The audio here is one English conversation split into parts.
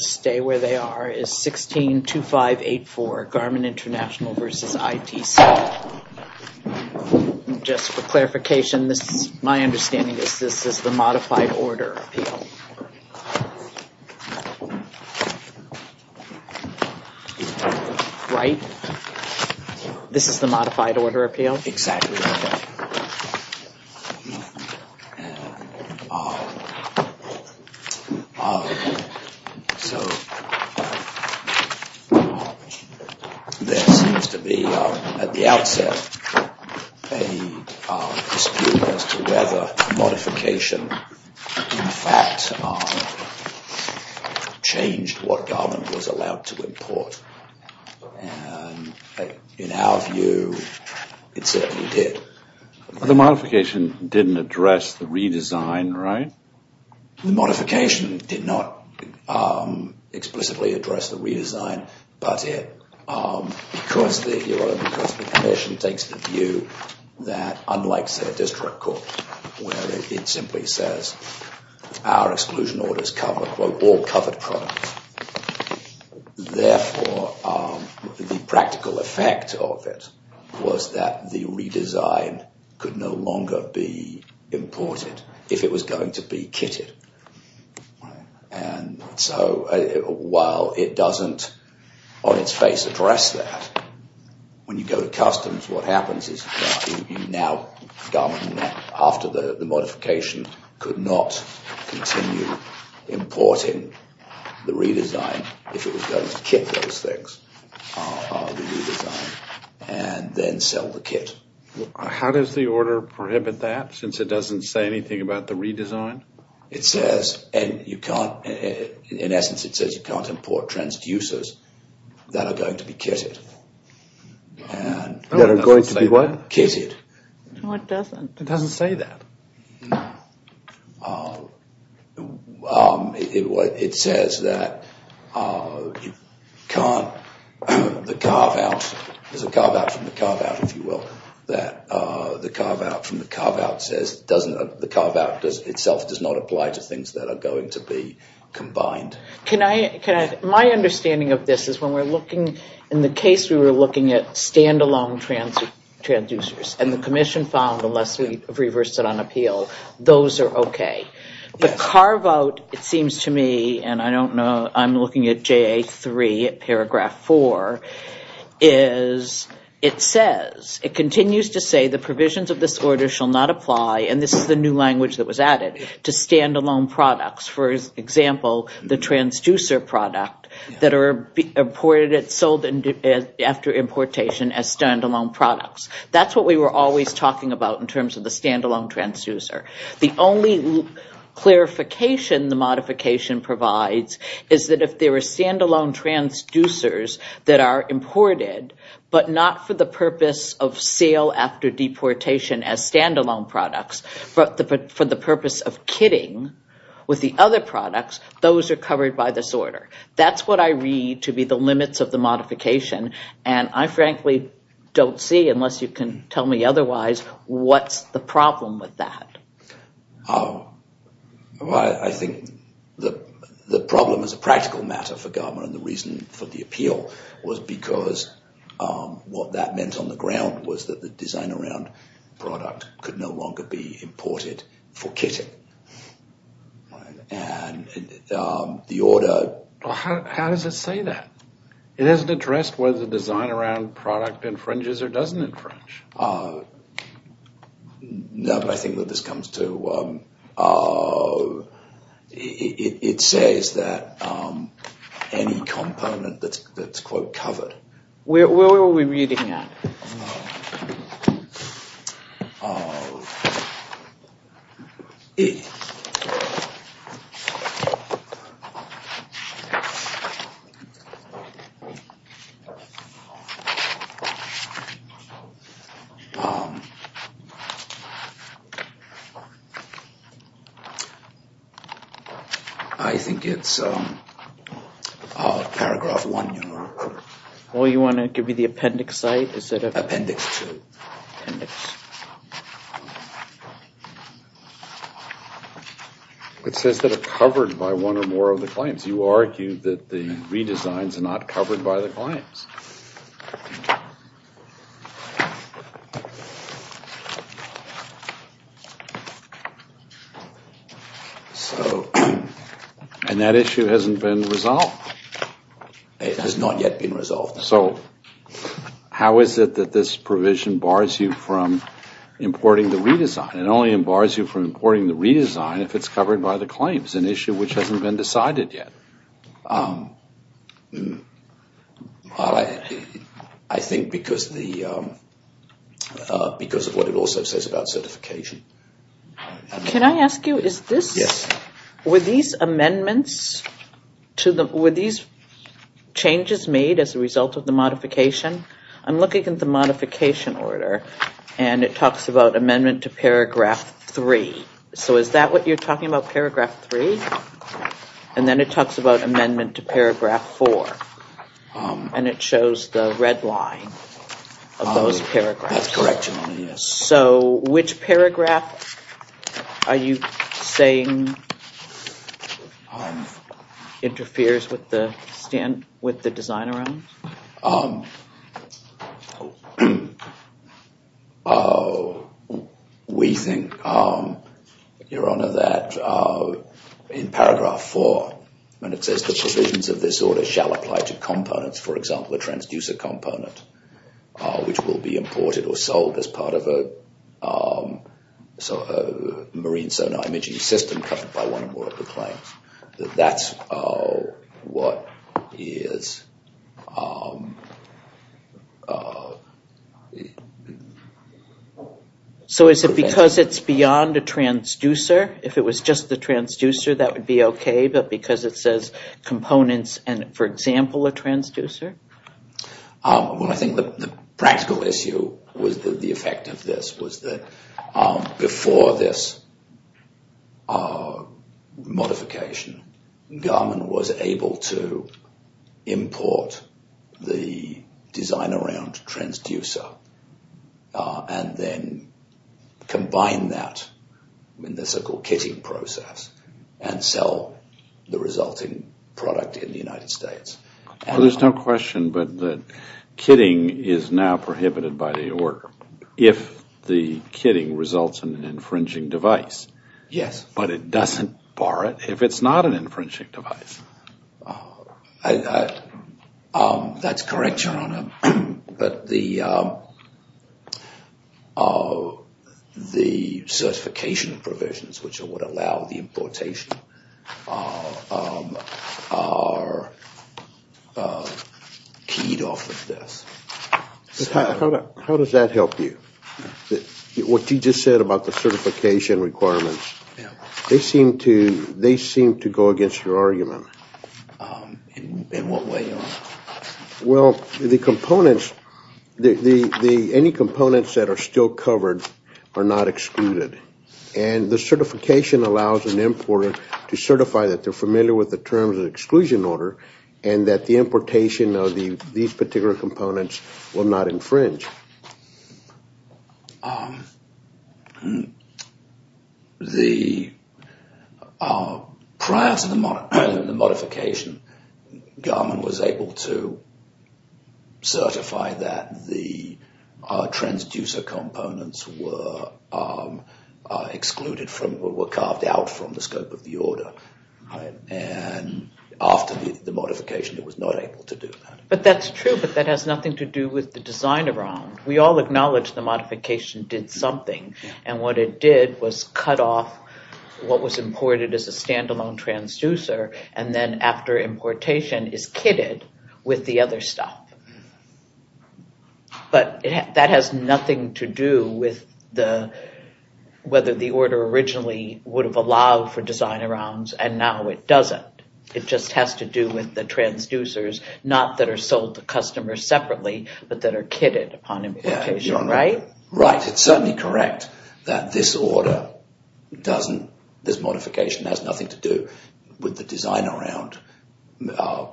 is 162584, Garmin International v. ITC. Just for clarification, my understanding is this is the Modified Order Appeal. Right? This is the Modified Order Appeal? Exactly. So, there seems to be, at the outset, a dispute as to whether modification in fact changed what Garmin was allowed to import. In our view, it certainly did. The modification didn't address the redesign, right? The modification did not explicitly address the redesign, but because the Commission takes the view that, unlike their district court, where it simply says, our exclusion orders cover, quote, all covered products, therefore, the practical effect of it was that the redesign could no longer be imported if it was going to be kitted. And so, while it doesn't, on its face, address that, when you go to customs, what happens is, now, Garmin, after the modification, could not continue importing the redesign if it was going to kit those things, the redesign, and then sell the kit. How does the order prohibit that, since it doesn't say anything about the redesign? It says, and you can't, in essence, it says you can't import transducers that are going to be kitted. That are going to be what? Kitted. It doesn't say that. No. It says that you can't, the carve-out, there's a carve-out from the carve-out, if you will, that the carve-out from the carve-out says, the carve-out itself does not apply to things that are going to be combined. Can I, my understanding of this is, when we're looking, in the case we were looking at stand-alone transducers, and the Commission found, unless we've reversed it on appeal, those are okay. The carve-out, it seems to me, and I don't know, I'm looking at JA3, paragraph 4, is, it says, it continues to say, the provisions of this order shall not apply, and this is a new language that was added, to stand-alone products. For example, the transducer product that are imported and sold after importation as stand-alone products. That's what we were always talking about in terms of the stand-alone transducer. The only clarification the modification provides is that if there are stand-alone transducers that are imported, but not for the purpose of sale after deportation as stand-alone products, but for the purpose of kitting with the other products, those are covered by this order. That's what I read to be the limits of the modification, and I frankly don't see, unless you can tell me otherwise, what's the problem with that. I think the problem is a practical matter for Garmer, and the reason for the appeal was because what that meant on the ground was that the design-around product could no longer be imported for kitting. How does it say that? It hasn't addressed whether the design-around product infringes or doesn't infringe. No, but I think that this comes to, it says that any component that's, quote, covered. Where were we reading at? I think it's paragraph one, you know. Or you want to give me the appendix site instead of appendix two. It says that it's covered by one or more of the claims. You argued that the redesigns are not covered by the claims. And that issue hasn't been resolved. It has not yet been resolved. So how is it that this provision bars you from importing the redesign? It only bars you from importing the redesign if it's covered by the claims, an issue which hasn't been resolved. I think because of what it also says about certification. Can I ask you, were these amendments, were these changes made as a result of the modification? I'm looking at the modification order, and it talks about amendment to paragraph three. So is that what you're talking about, paragraph three? And then it talks about amendment to paragraph four. And it shows the red line of those paragraphs. So which paragraph are you saying interferes with the design around? We think, Your Honor, that in paragraph four, when it says the provisions of this order shall apply to components, for example, a transducer component, which will be imported or sold as part of a marine sonar imaging system covered by one or more of the claims, that's what is... So is it because it's beyond a transducer? If it was just the transducer, that would be okay, but because it says components and, for example, a transducer? Well, I think the practical issue was that the effect of this was that before this modification, Garmin was able to import the design around transducer and then combine that in the so-called kitting process and sell the resulting product in the United States. Well, there's no question but that kitting is now prohibited by the order if the kitting results in an infringing device. But it doesn't bar it if it's not an infringing device. That's correct, Your Honor. But the certification provisions, which are what allow the importation, are not keyed off of this. How does that help you? What you just said about the certification requirements? They seem to go against your argument. In what way, Your Honor? Well, any components that are still covered are not excluded. And the certification allows an importer to certify that they're familiar with the terms of exclusion order and that the importation of these particular components will not infringe. Prior to the modification, Garmin was able to certify that the transducer components were excluded, were carved out from the scope of the order. And after the modification, it was not able to do that. But that's true, but that has nothing to do with the design around. We all acknowledge the modification did something. And what it did was cut off what was imported as a standalone transducer and then after importation is kitted with the other stuff. But that has nothing to do with whether the order originally would have allowed for design arounds, and now it doesn't. It just has to do with the transducers, not that are sold to customers separately, but that are kitted upon importation, right? Right, it's certainly correct that this order doesn't, this modification has nothing to do with the design around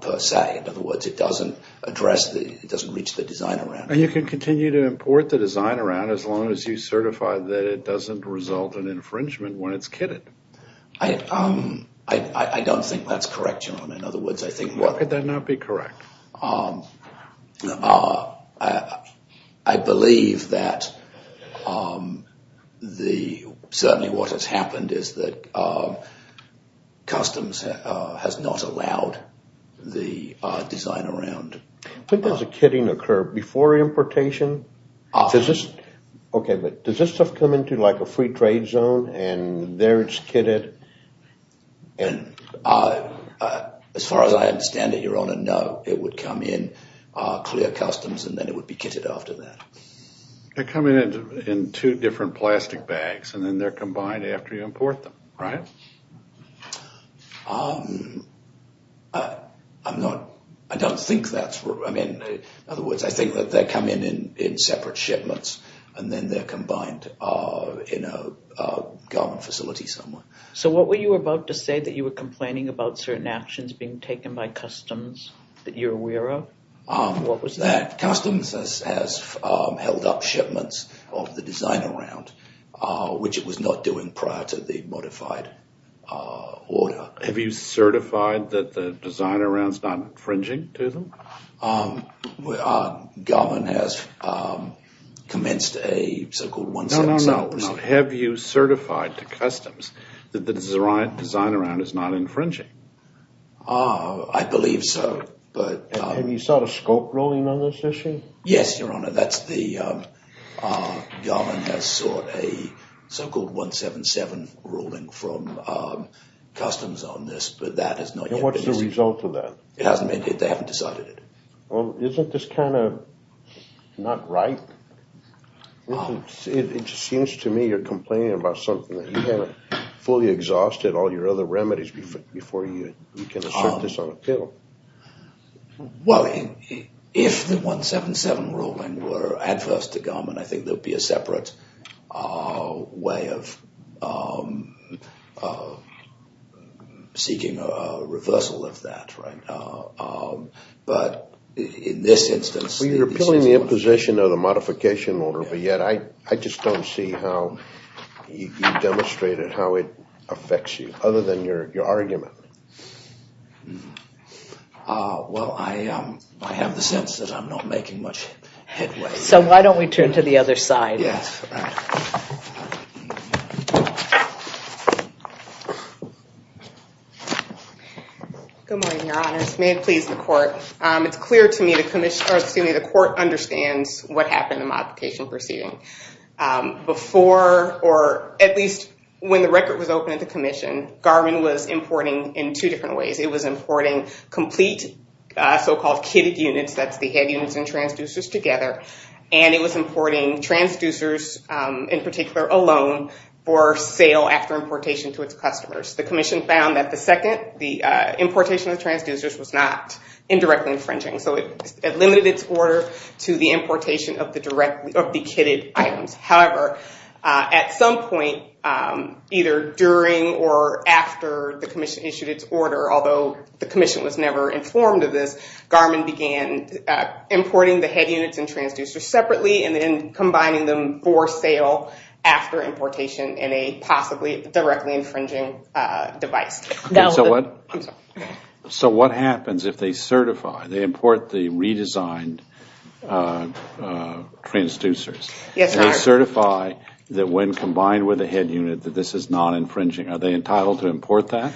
per se. In other words, it doesn't address, it doesn't reach the design around. And you can continue to import the design around as long as you certify that it doesn't result in infringement when it's kitted. I don't think that's correct, John. Could that not be correct? I believe that certainly what has happened is that customs has not allowed the design around. Does the kitting occur before importation? Does this stuff come into like a free trade zone and there it's kitted? As far as I understand it, Your Honor, no. It would come in clear customs and then it would be kitted after that. They come in in two different plastic bags and then they're combined after you import them, right? I don't think that's, in other words, I think that they come in in separate shipments and then they're combined in a garment facility somewhere. So what were you about to say that you were complaining about certain actions being taken by customs that you're aware of? That customs has held up shipments of the design around, which it was not doing prior to the modified order. Have you certified that the design around's not infringing to them? Garment has commenced a so-called 177. No, no, no. Have you certified to customs that the design around is not infringing? I believe so. Have you sought a scope ruling on this issue? Yes, Your Honor. Garment has sought a so-called 177 ruling from customs on this, but that has not yet been issued. It hasn't been issued as a result of that? It hasn't been issued. They haven't decided it. Well, isn't this kind of not right? It seems to me you're complaining about something that you haven't fully exhausted all your other remedies before you can assert this on appeal. Well, if the 177 ruling were adverse to garment, I think there would be a separate way of seeking a reversal of that. But in this instance... You're appealing the imposition of the modification order, but yet I just don't see how you demonstrated how it affects you, other than your argument. Well, I have the sense that I'm not making much headway. So why don't we turn to the other side? Yes. Good morning, Your Honors. May it please the Court. It's clear to me the Court understands what happened in the modification proceeding. Before, or at least when the record was opened at the Commission, Garment was importing in two different ways. It was importing complete so-called kitted units, that's the head units and transducers together, and it was importing transducers in particular alone for sale after importation to its customers. The Commission found that the second, the importation of transducers, was not indirectly infringing. So it limited its order to the importation of the kitted items. However, at some point, either during or after the Commission issued its order, although the Commission was never informed of this, Garment began importing the head units and transducers separately and then combining them for sale after importation in a possibly directly infringing device. So what happens if they certify, they import the redesigned transducers? They certify that when combined with the head unit, that this is not infringing. Are they entitled to import that?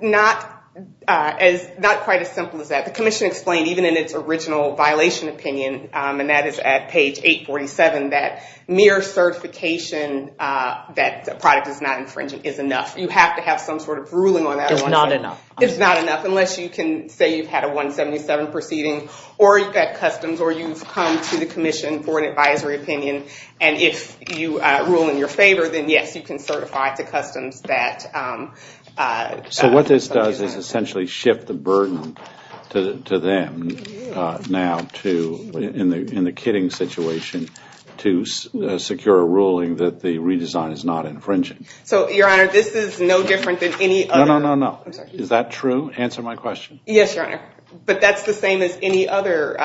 Not quite as simple as that. The Commission explained even in its original violation opinion, and that is at page 847, that mere certification that the product is not infringing is enough. You have to have some sort of ruling on that. It's not enough unless you can say you've had a 177 proceeding, or you've got customs, or you've come to the Commission for an advisory opinion, and if you rule in your favor, then yes, you can certify to customs that... So what this does is essentially shift the burden to them now in the kitting situation to secure a ruling that the redesign is not infringing. So, Your Honor, this is no different than any other... No, no, no, no. Is that true? Answer my question. Yes, Your Honor. But that's the same as any other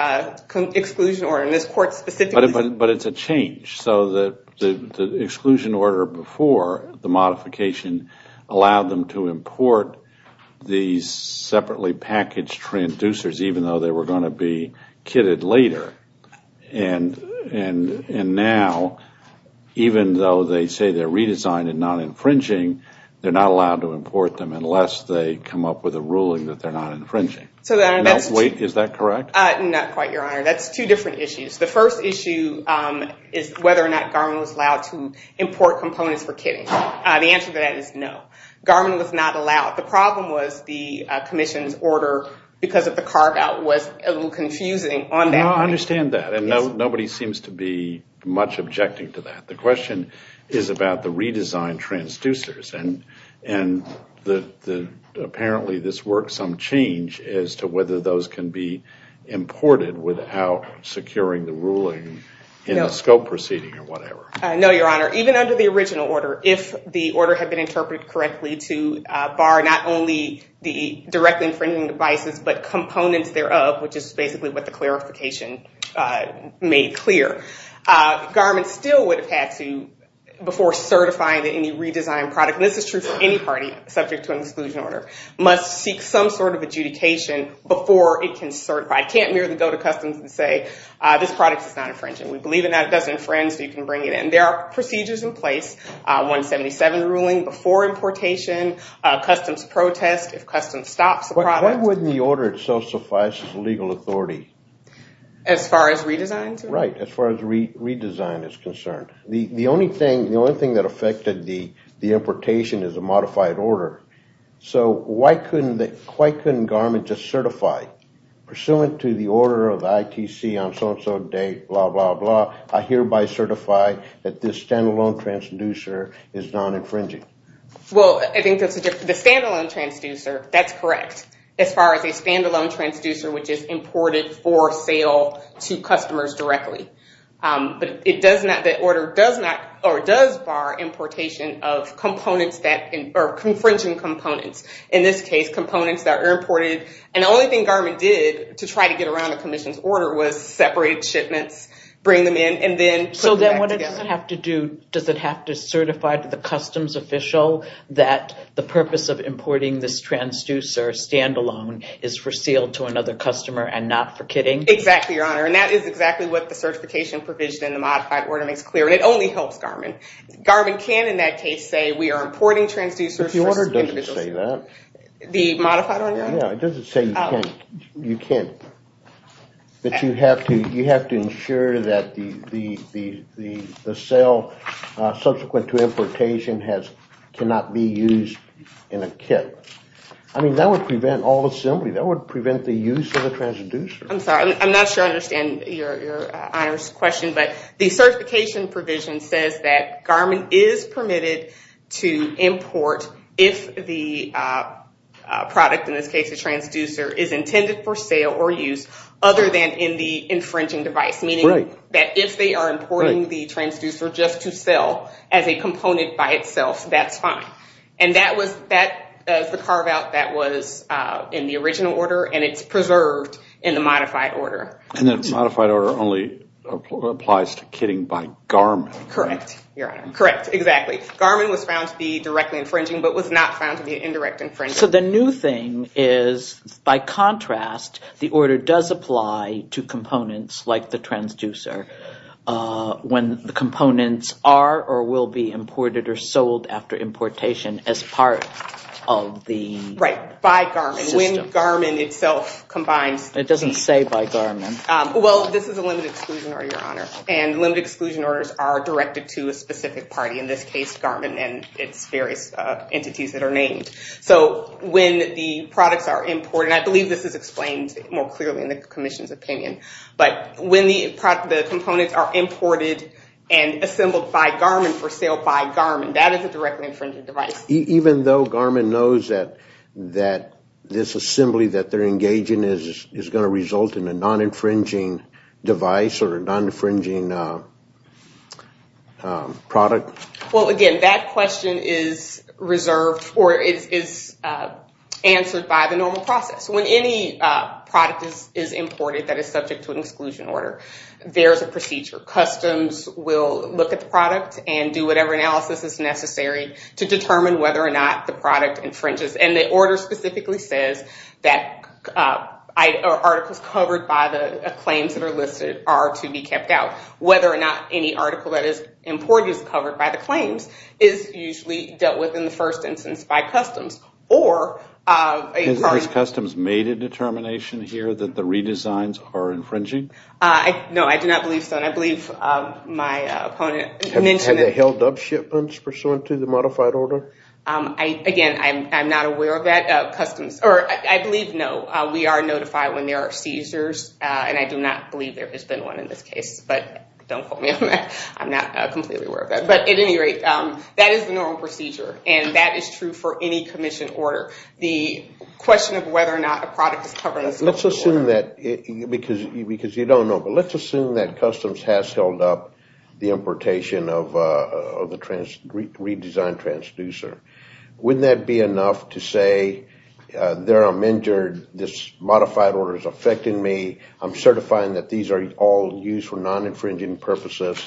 exclusion order. But it's a change. So the exclusion order before the modification allowed them to import these separately packaged transducers even though they were going to be kitted later. And now, even though they say they're redesigned and not infringing, they're not allowed to import them unless they come up with a ruling that they're not infringing. Is that correct? Not quite, Your Honor. That's two different issues. The first issue is whether or not Garmin was allowed to import components for kitting. The answer to that is no. Garmin was not allowed. The problem was the No, I understand that. And nobody seems to be much objecting to that. The question is about the redesigned transducers. And apparently, this works on change as to whether those can be imported without securing the ruling in the scope proceeding or whatever. No, Your Honor. Even under the original order, if the order had been interpreted correctly to bar not only the directly infringing devices but components thereof, which is basically what the clarification made clear, Garmin still would have had to, before certifying that any redesigned product, and this is true for any party subject to an exclusion order, must seek some sort of adjudication before it can certify. It can't merely go to customs and say, this product is not infringing. We believe it now. It doesn't infringe, so you can bring it in. There are procedures in place. 177 ruling before importation. Customs protest if customs stops the product. But why wouldn't the order itself suffice as legal authority? As far as redesign is concerned? Right. As far as redesign is concerned. The only thing that affected the importation is a modified order. So why couldn't Garmin just certify, pursuant to the order of the ITC on so and so date, blah, blah, blah, I hereby certify that this stand-alone transducer is non-infringing? Well, I think the stand-alone transducer, that's correct. As far as a stand-alone transducer, which is imported for sale to customers directly. But it does not, the order does not, or does bar importation of components that, or infringing components. In this case, separate shipments, bring them in, and then put them back together. So then what does it have to do? Does it have to certify to the customs official that the purpose of importing this transducer stand-alone is for sale to another customer and not for kidding? Exactly, Your Honor. And that is exactly what the certification provision in the modified order makes clear. And it only helps Garmin. Garmin can, in that case, say we are importing transducers for individuals. But the order doesn't say that. The modified order? No, it doesn't say you can't. But you have to ensure that the sale subsequent to importation cannot be used in a kit. I mean, that would prevent all assembly. That would prevent the use of a transducer. I'm sorry, I'm not sure I understand Your Honor's question, but the certification provision says that the product, in this case the transducer, is intended for sale or use other than in the infringing device. Meaning that if they are importing the transducer just to sell as a component by itself, that's fine. And that was the carve-out that was in the original order, and it's preserved in the modified order. And the modified order only applies to kitting by Garmin. Correct, Your Honor. Correct, exactly. Garmin was found to be directly infringing, but was not found to be indirect infringing. So the new thing is, by contrast, the order does apply to components like the transducer when the components are or will be imported or sold after importation as part of the system. Right, by Garmin, when Garmin itself combines. It doesn't say by Garmin. Well, this is a limited exclusion order, Your Honor, and limited exclusion orders are directed to a specific party, in this case Garmin and its various entities that are named. So when the products are imported, and I believe this is explained more clearly in the Commission's opinion, but when the components are imported and assembled by Garmin for sale by Garmin, that is a directly infringing device. Even though Garmin knows that this assembly that they're engaging in is going to result in a non-infringing device or a non-infringing product? Well, again, that question is answered by the normal process. When any product is imported that is subject to an exclusion order, there is a procedure. Customs will look at the product infringes, and the order specifically says that articles covered by the claims that are listed are to be kept out. Whether or not any article that is imported is covered by the claims is usually dealt with in the first instance by Customs. Has Customs made a determination here that the redesigns are infringing? No, I do not believe so, and I believe my question is, is there a modified order? Again, I'm not aware of that. I believe no. We are notified when there are seizures, and I do not believe there has been one in this case, but don't quote me on that. I'm not completely aware of that. But at any rate, that is the normal procedure, and that is true for any Commission order. The question of whether or not a product is covered is a separate order. Let's assume that, because I'm a non-transducer, wouldn't that be enough to say that I'm injured, this modified order is affecting me, I'm certifying that these are all used for non-infringing purposes?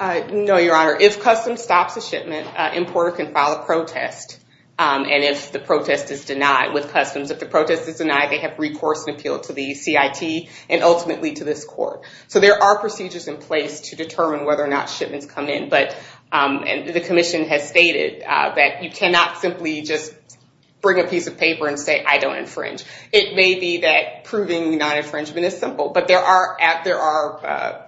No, Your Honor. If Customs stops a shipment, an importer can file a protest, and if the protest is denied with Customs, if the protest is denied, they have recourse and appeal to the CIT, and ultimately to this court. So there are procedures in place to determine whether or not shipments come in, and the Commission has stated that you cannot simply just bring a piece of paper and say, I don't infringe. It may be that proving non-infringement is simple, but there are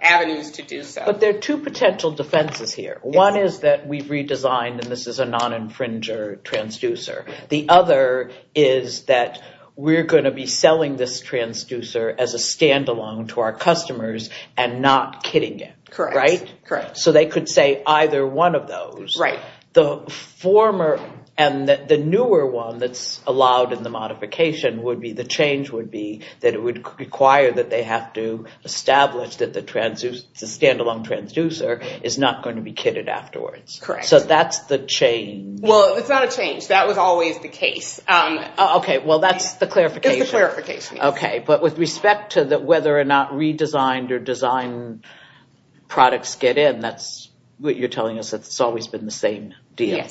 avenues to do so. But there are two potential defenses here. One is that we've redesigned, and this is a non-infringer transducer. The other is that we're going to be selling this transducer as a standalone to our customers, and not kitting it. So they could say either one of those. The former and the newer one that's allowed in the modification, the change would be that it would require that they have to establish that the standalone transducer is not going to be kitted afterwards. So that's the change. Well, it's not a change. That was always the case. But with respect to whether or not redesigned or designed products get in, you're telling us that it's always been the same deal?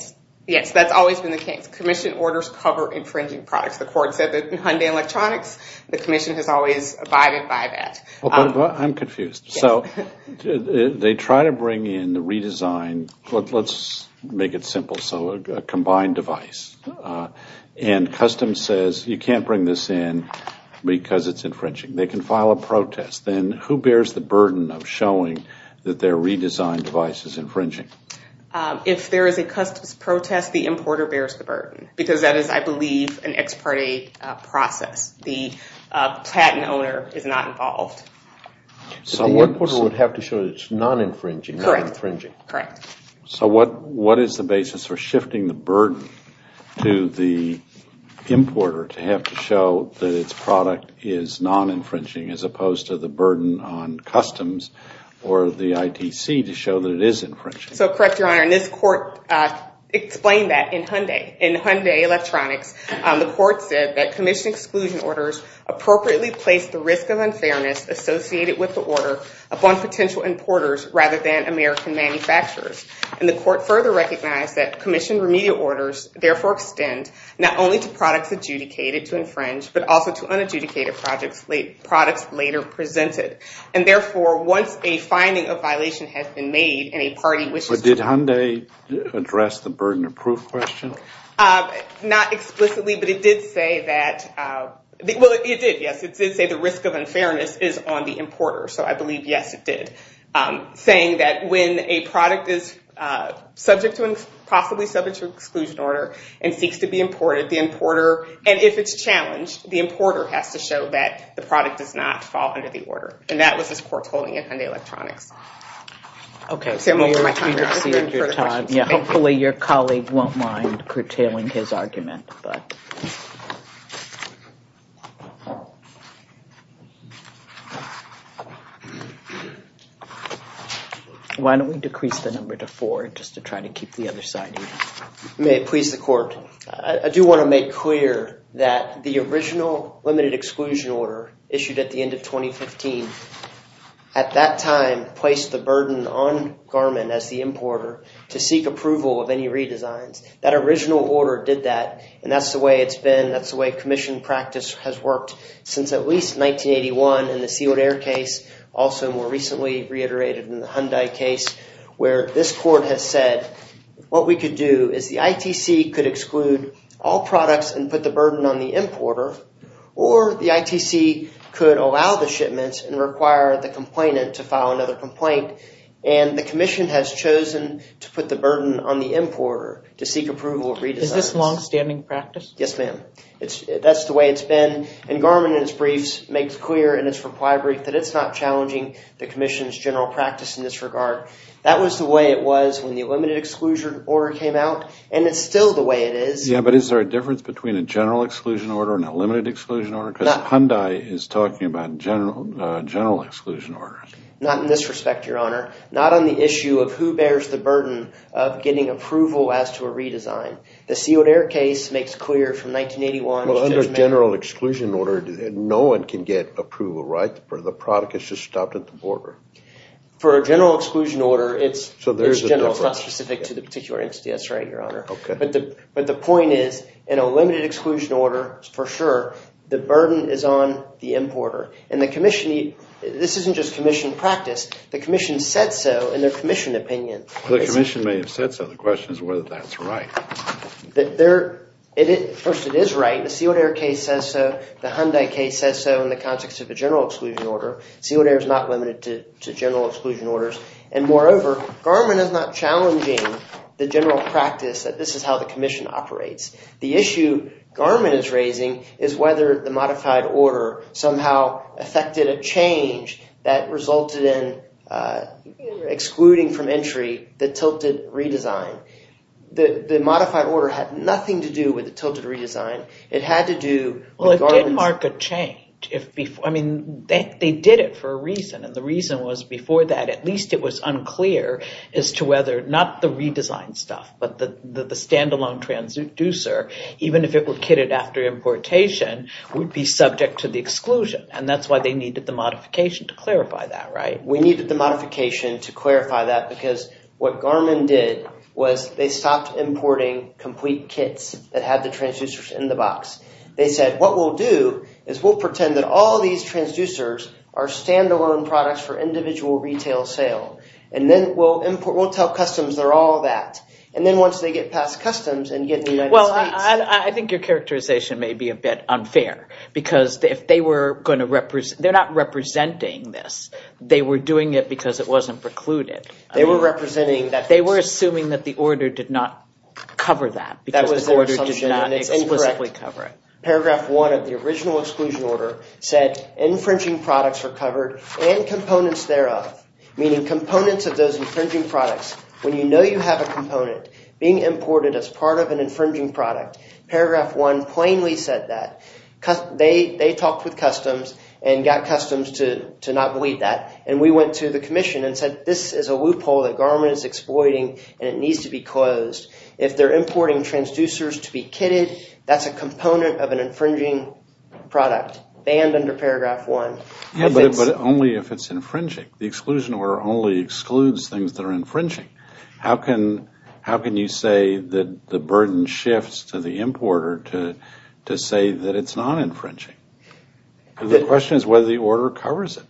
Yes, that's always been the case. Commission orders cover infringing products. The court said that in Hyundai Electronics, the Commission has always abide by that. I'm confused. So they try to bring in the redesigned, let's make it simple, so a combined device, and customs says you can't bring this in because it's infringing. They can file a protest. Then who bears the burden of showing that their redesigned device is infringing? If there is a customs protest, the importer bears the burden, because that is, I believe, an ex parte process. The patent owner is not involved. So the importer would have to show that it's non-infringing. Correct. So what is the basis for shifting the burden to the importer to have to show that its product is non-infringing, as opposed to the burden on customs or the ITC to show that it is infringing? So correct, Your Honor, and this court explained that in Hyundai Electronics. The court said that Commission exclusion orders appropriately place the risk of unfairness associated with the order upon potential importers rather than American manufacturers. And the court further recognized that Commission remedial orders therefore extend not only to products adjudicated to infringe, but also to unadjudicated products later presented. And therefore, once a finding of violation has been made and a party wishes to But did Hyundai address the burden of proof question? Not explicitly, but it did say that, well, it did, yes, it did say the risk of unfairness is on the importer. So I believe, yes, it did. Saying that when a product is subject to, possibly subject to exclusion order and seeks to be imported, the And that was this court's holding in Hyundai Electronics. Hopefully your colleague won't mind curtailing his argument. Why don't we decrease the number to four just to try to keep the other side even. May it please the court. I do want to make clear that the original limited exclusion order issued at the end of 2015 at that time placed the burden on Garmin as the importer to seek approval of any redesigns. That original order did that. And that's the way it's been. That's the way commission practice has worked since at least 1981 in the sealed air case. Also more recently reiterated in the Hyundai case where this court has said what we could do is the ITC could allow the shipments and require the complainant to file another complaint. And the commission has chosen to put the burden on the importer to seek approval of redesigns. Is this longstanding practice? Yes, ma'am. That's the way it's been. And Garmin in its briefs makes clear in its reply brief that it's not challenging the commission's general practice in this regard. That was the way it was when the limited exclusion order came out. And it's still the way it is. Yeah, but is there a difference between a general exclusion order and a limited exclusion order? Because Hyundai is talking about general exclusion order. Not in this respect, Your Honor. Not on the issue of who bears the burden of getting approval as to a redesign. The sealed air case makes clear from 1981. Well, under general exclusion order, no one can get approval, right? The product is just stopped at the border. For a general exclusion order, it's general. It's not specific to the particular entity. That's right, Your Honor. But the point is, in a limited exclusion order, for sure, the burden is on the importer. And the commission, this isn't just commission practice. The commission said so in their commission opinion. The commission may have said so. The question is whether that's right. First, it is right. The sealed air case says so. The Hyundai case says so in the context of a general exclusion order. Sealed air is not limited to general exclusion orders. And moreover, Garmin is not challenging the general practice that this is how the commission operates. The issue Garmin is raising is whether the modified order somehow affected a change that resulted in excluding from entry the tilted redesign. The modified order had nothing to do with the tilted redesign. It had to do... Well, it did mark a change. They did it for a reason. And the reason was, before that, at least it was unclear as to whether, not the redesigned stuff, but the standalone transducer, even if it were kitted after importation, would be subject to the exclusion. And that's why they needed the modification to clarify that, right? We needed the modification to clarify that because what Garmin did was they stopped importing complete kits that had the transducers in the box. They said, what we'll do is we'll pretend that all these transducers are standalone products for individual retail sale. And then we'll tell customs they're all that. And then once they get past customs and get in the United States... Well, I think your characterization may be a bit unfair because if they were going to represent... They were doing it because it wasn't precluded. They were assuming that the order did not cover that because the order did not explicitly cover it. Paragraph one of the original exclusion order said infringing products are covered and components thereof, meaning components of those infringing products. When you know you have a component being imported as part of an infringing product, paragraph one plainly said that. They talked with customs and got customs to not believe that. And we went to the commission and said, this is a loophole that Garmin is exploiting and it needs to be closed. If they're importing transducers to be kitted, that's a component of an infringing product. Banned under paragraph one. But only if it's infringing. The exclusion order only excludes things that are infringing. How can you say that the burden shifts to the importer to say that it's not infringing? The question is whether the order covers it.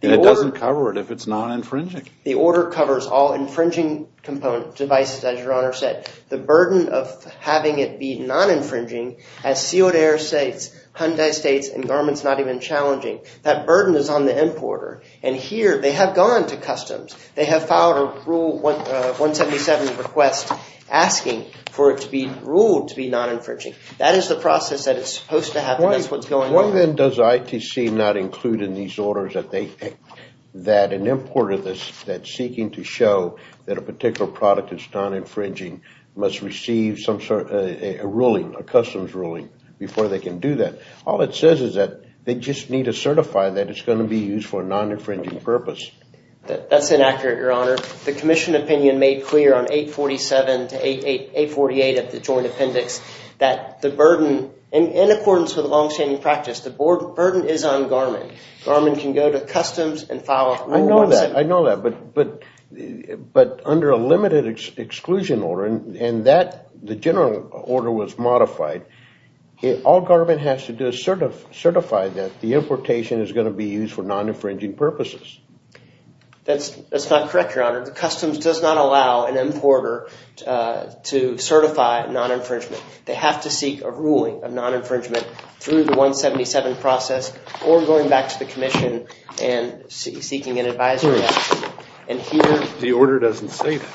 And it doesn't cover it if it's not infringing. The order covers all infringing devices, as your Honor said. The burden of having it be non-infringing has sealed air states, Hyundai states, and Garmin's not even challenging. That burden is on the importer. And here, they have gone to customs. They have filed a rule 177 request asking for it to be ruled to be non-infringing. That is the process that is supposed to happen. That's what's going on. Why then does ITC not include in these orders that an importer that's seeking to show that a particular product is non-infringing must receive a ruling, a customs ruling, before they can do that? All it says is that they just need to certify that it's going to be used for a non-infringing purpose. That's inaccurate, your Honor. The Commission opinion made clear on 847 to 848 of the Joint Appendix that the burden, in accordance with longstanding practice, the burden is on Garmin. Garmin can go to customs and file a rule 177. I know that, but under a limited exclusion order, and the general order was modified, all Garmin has to do is certify that the importation is going to be used for non-infringing purposes. That's not correct, your Honor. Customs does not allow an importer to certify non-infringement. They have to seek a ruling of non-infringement through the 177 process or going back to the Commission and seeking an advisory action. The order doesn't say that.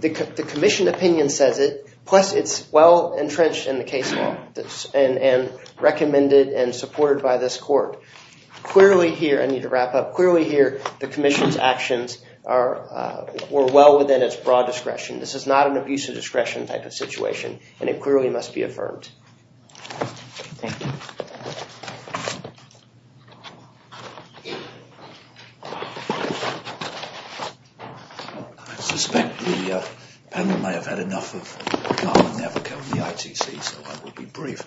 The Commission opinion says it, plus it's well entrenched in the case law and recommended and supported by this court. Clearly here, I need to wrap up, clearly here the Commission's actions were well within its broad discretion. This is not an abuse of discretion type of situation, and it clearly must be affirmed. I suspect the panel may have had enough of Garmin never coming to the ITC, so I will be brief.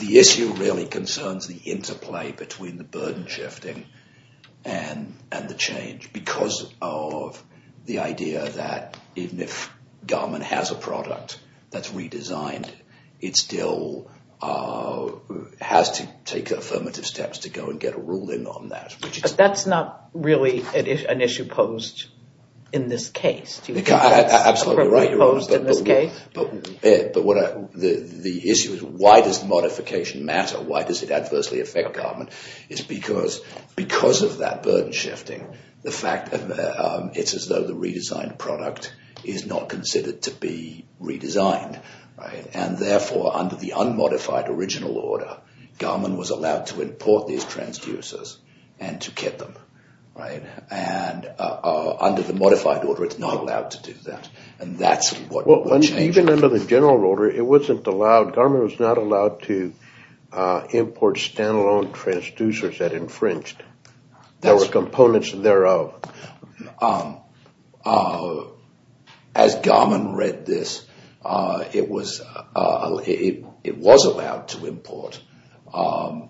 The issue really concerns the interplay between the burden shifting and the change because of the idea that even if Garmin has a product that's redesigned, it still has to take affirmative steps to go and get a ruling on that. But that's not really an issue posed in this case. Absolutely right, but the issue is why does modification matter? Why does it adversely affect Garmin? It's because of that burden shifting, the fact that it's as though the redesigned product is not considered to be redesigned, and therefore under the unmodified original order, Garmin was allowed to import these transducers and to get them. And under the modified order, it's not allowed to do that. Even under the general order, Garmin was not allowed to import stand-alone transducers that infringed. There were components thereof. As Garmin read this, it was allowed to import, although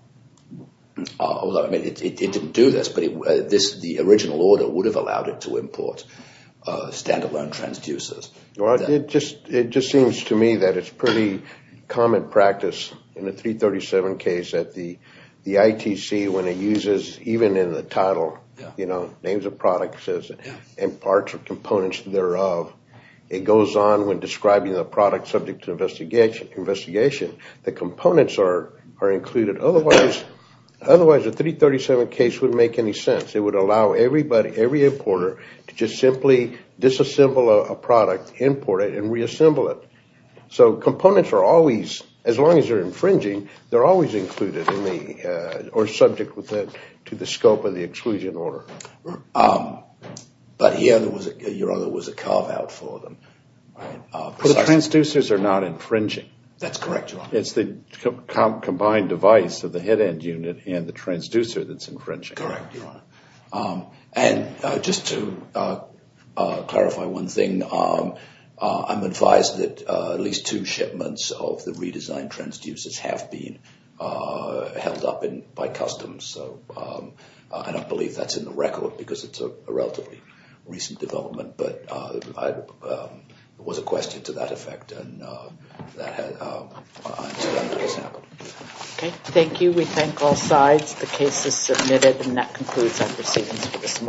it didn't do this, but the original order would have allowed it to import stand-alone transducers. It just seems to me that it's pretty common practice in the 337 case at the ITC when it uses, even in the title, names of products and parts or components thereof. It goes on when describing the product subject to investigation. The components are included. Otherwise, the 337 case wouldn't make any sense. It would allow every importer to just simply disassemble a product, import it, and reassemble it. So components are always, as long as they're infringing, they're always included or subject to the scope of the exclusion order. But here, Your Honor, there was a carve-out for them. The transducers are not infringing. That's correct, Your Honor. It's the combined device of the head-end unit and the transducer that's infringing. And just to clarify one thing, I'm advised that at least two shipments of the redesigned transducers have been held up by customs. I don't believe that's in the record because it's a relatively recent development, but it was a question to that effect. Thank you. We thank all sides. The case is submitted and that concludes our proceedings for this morning.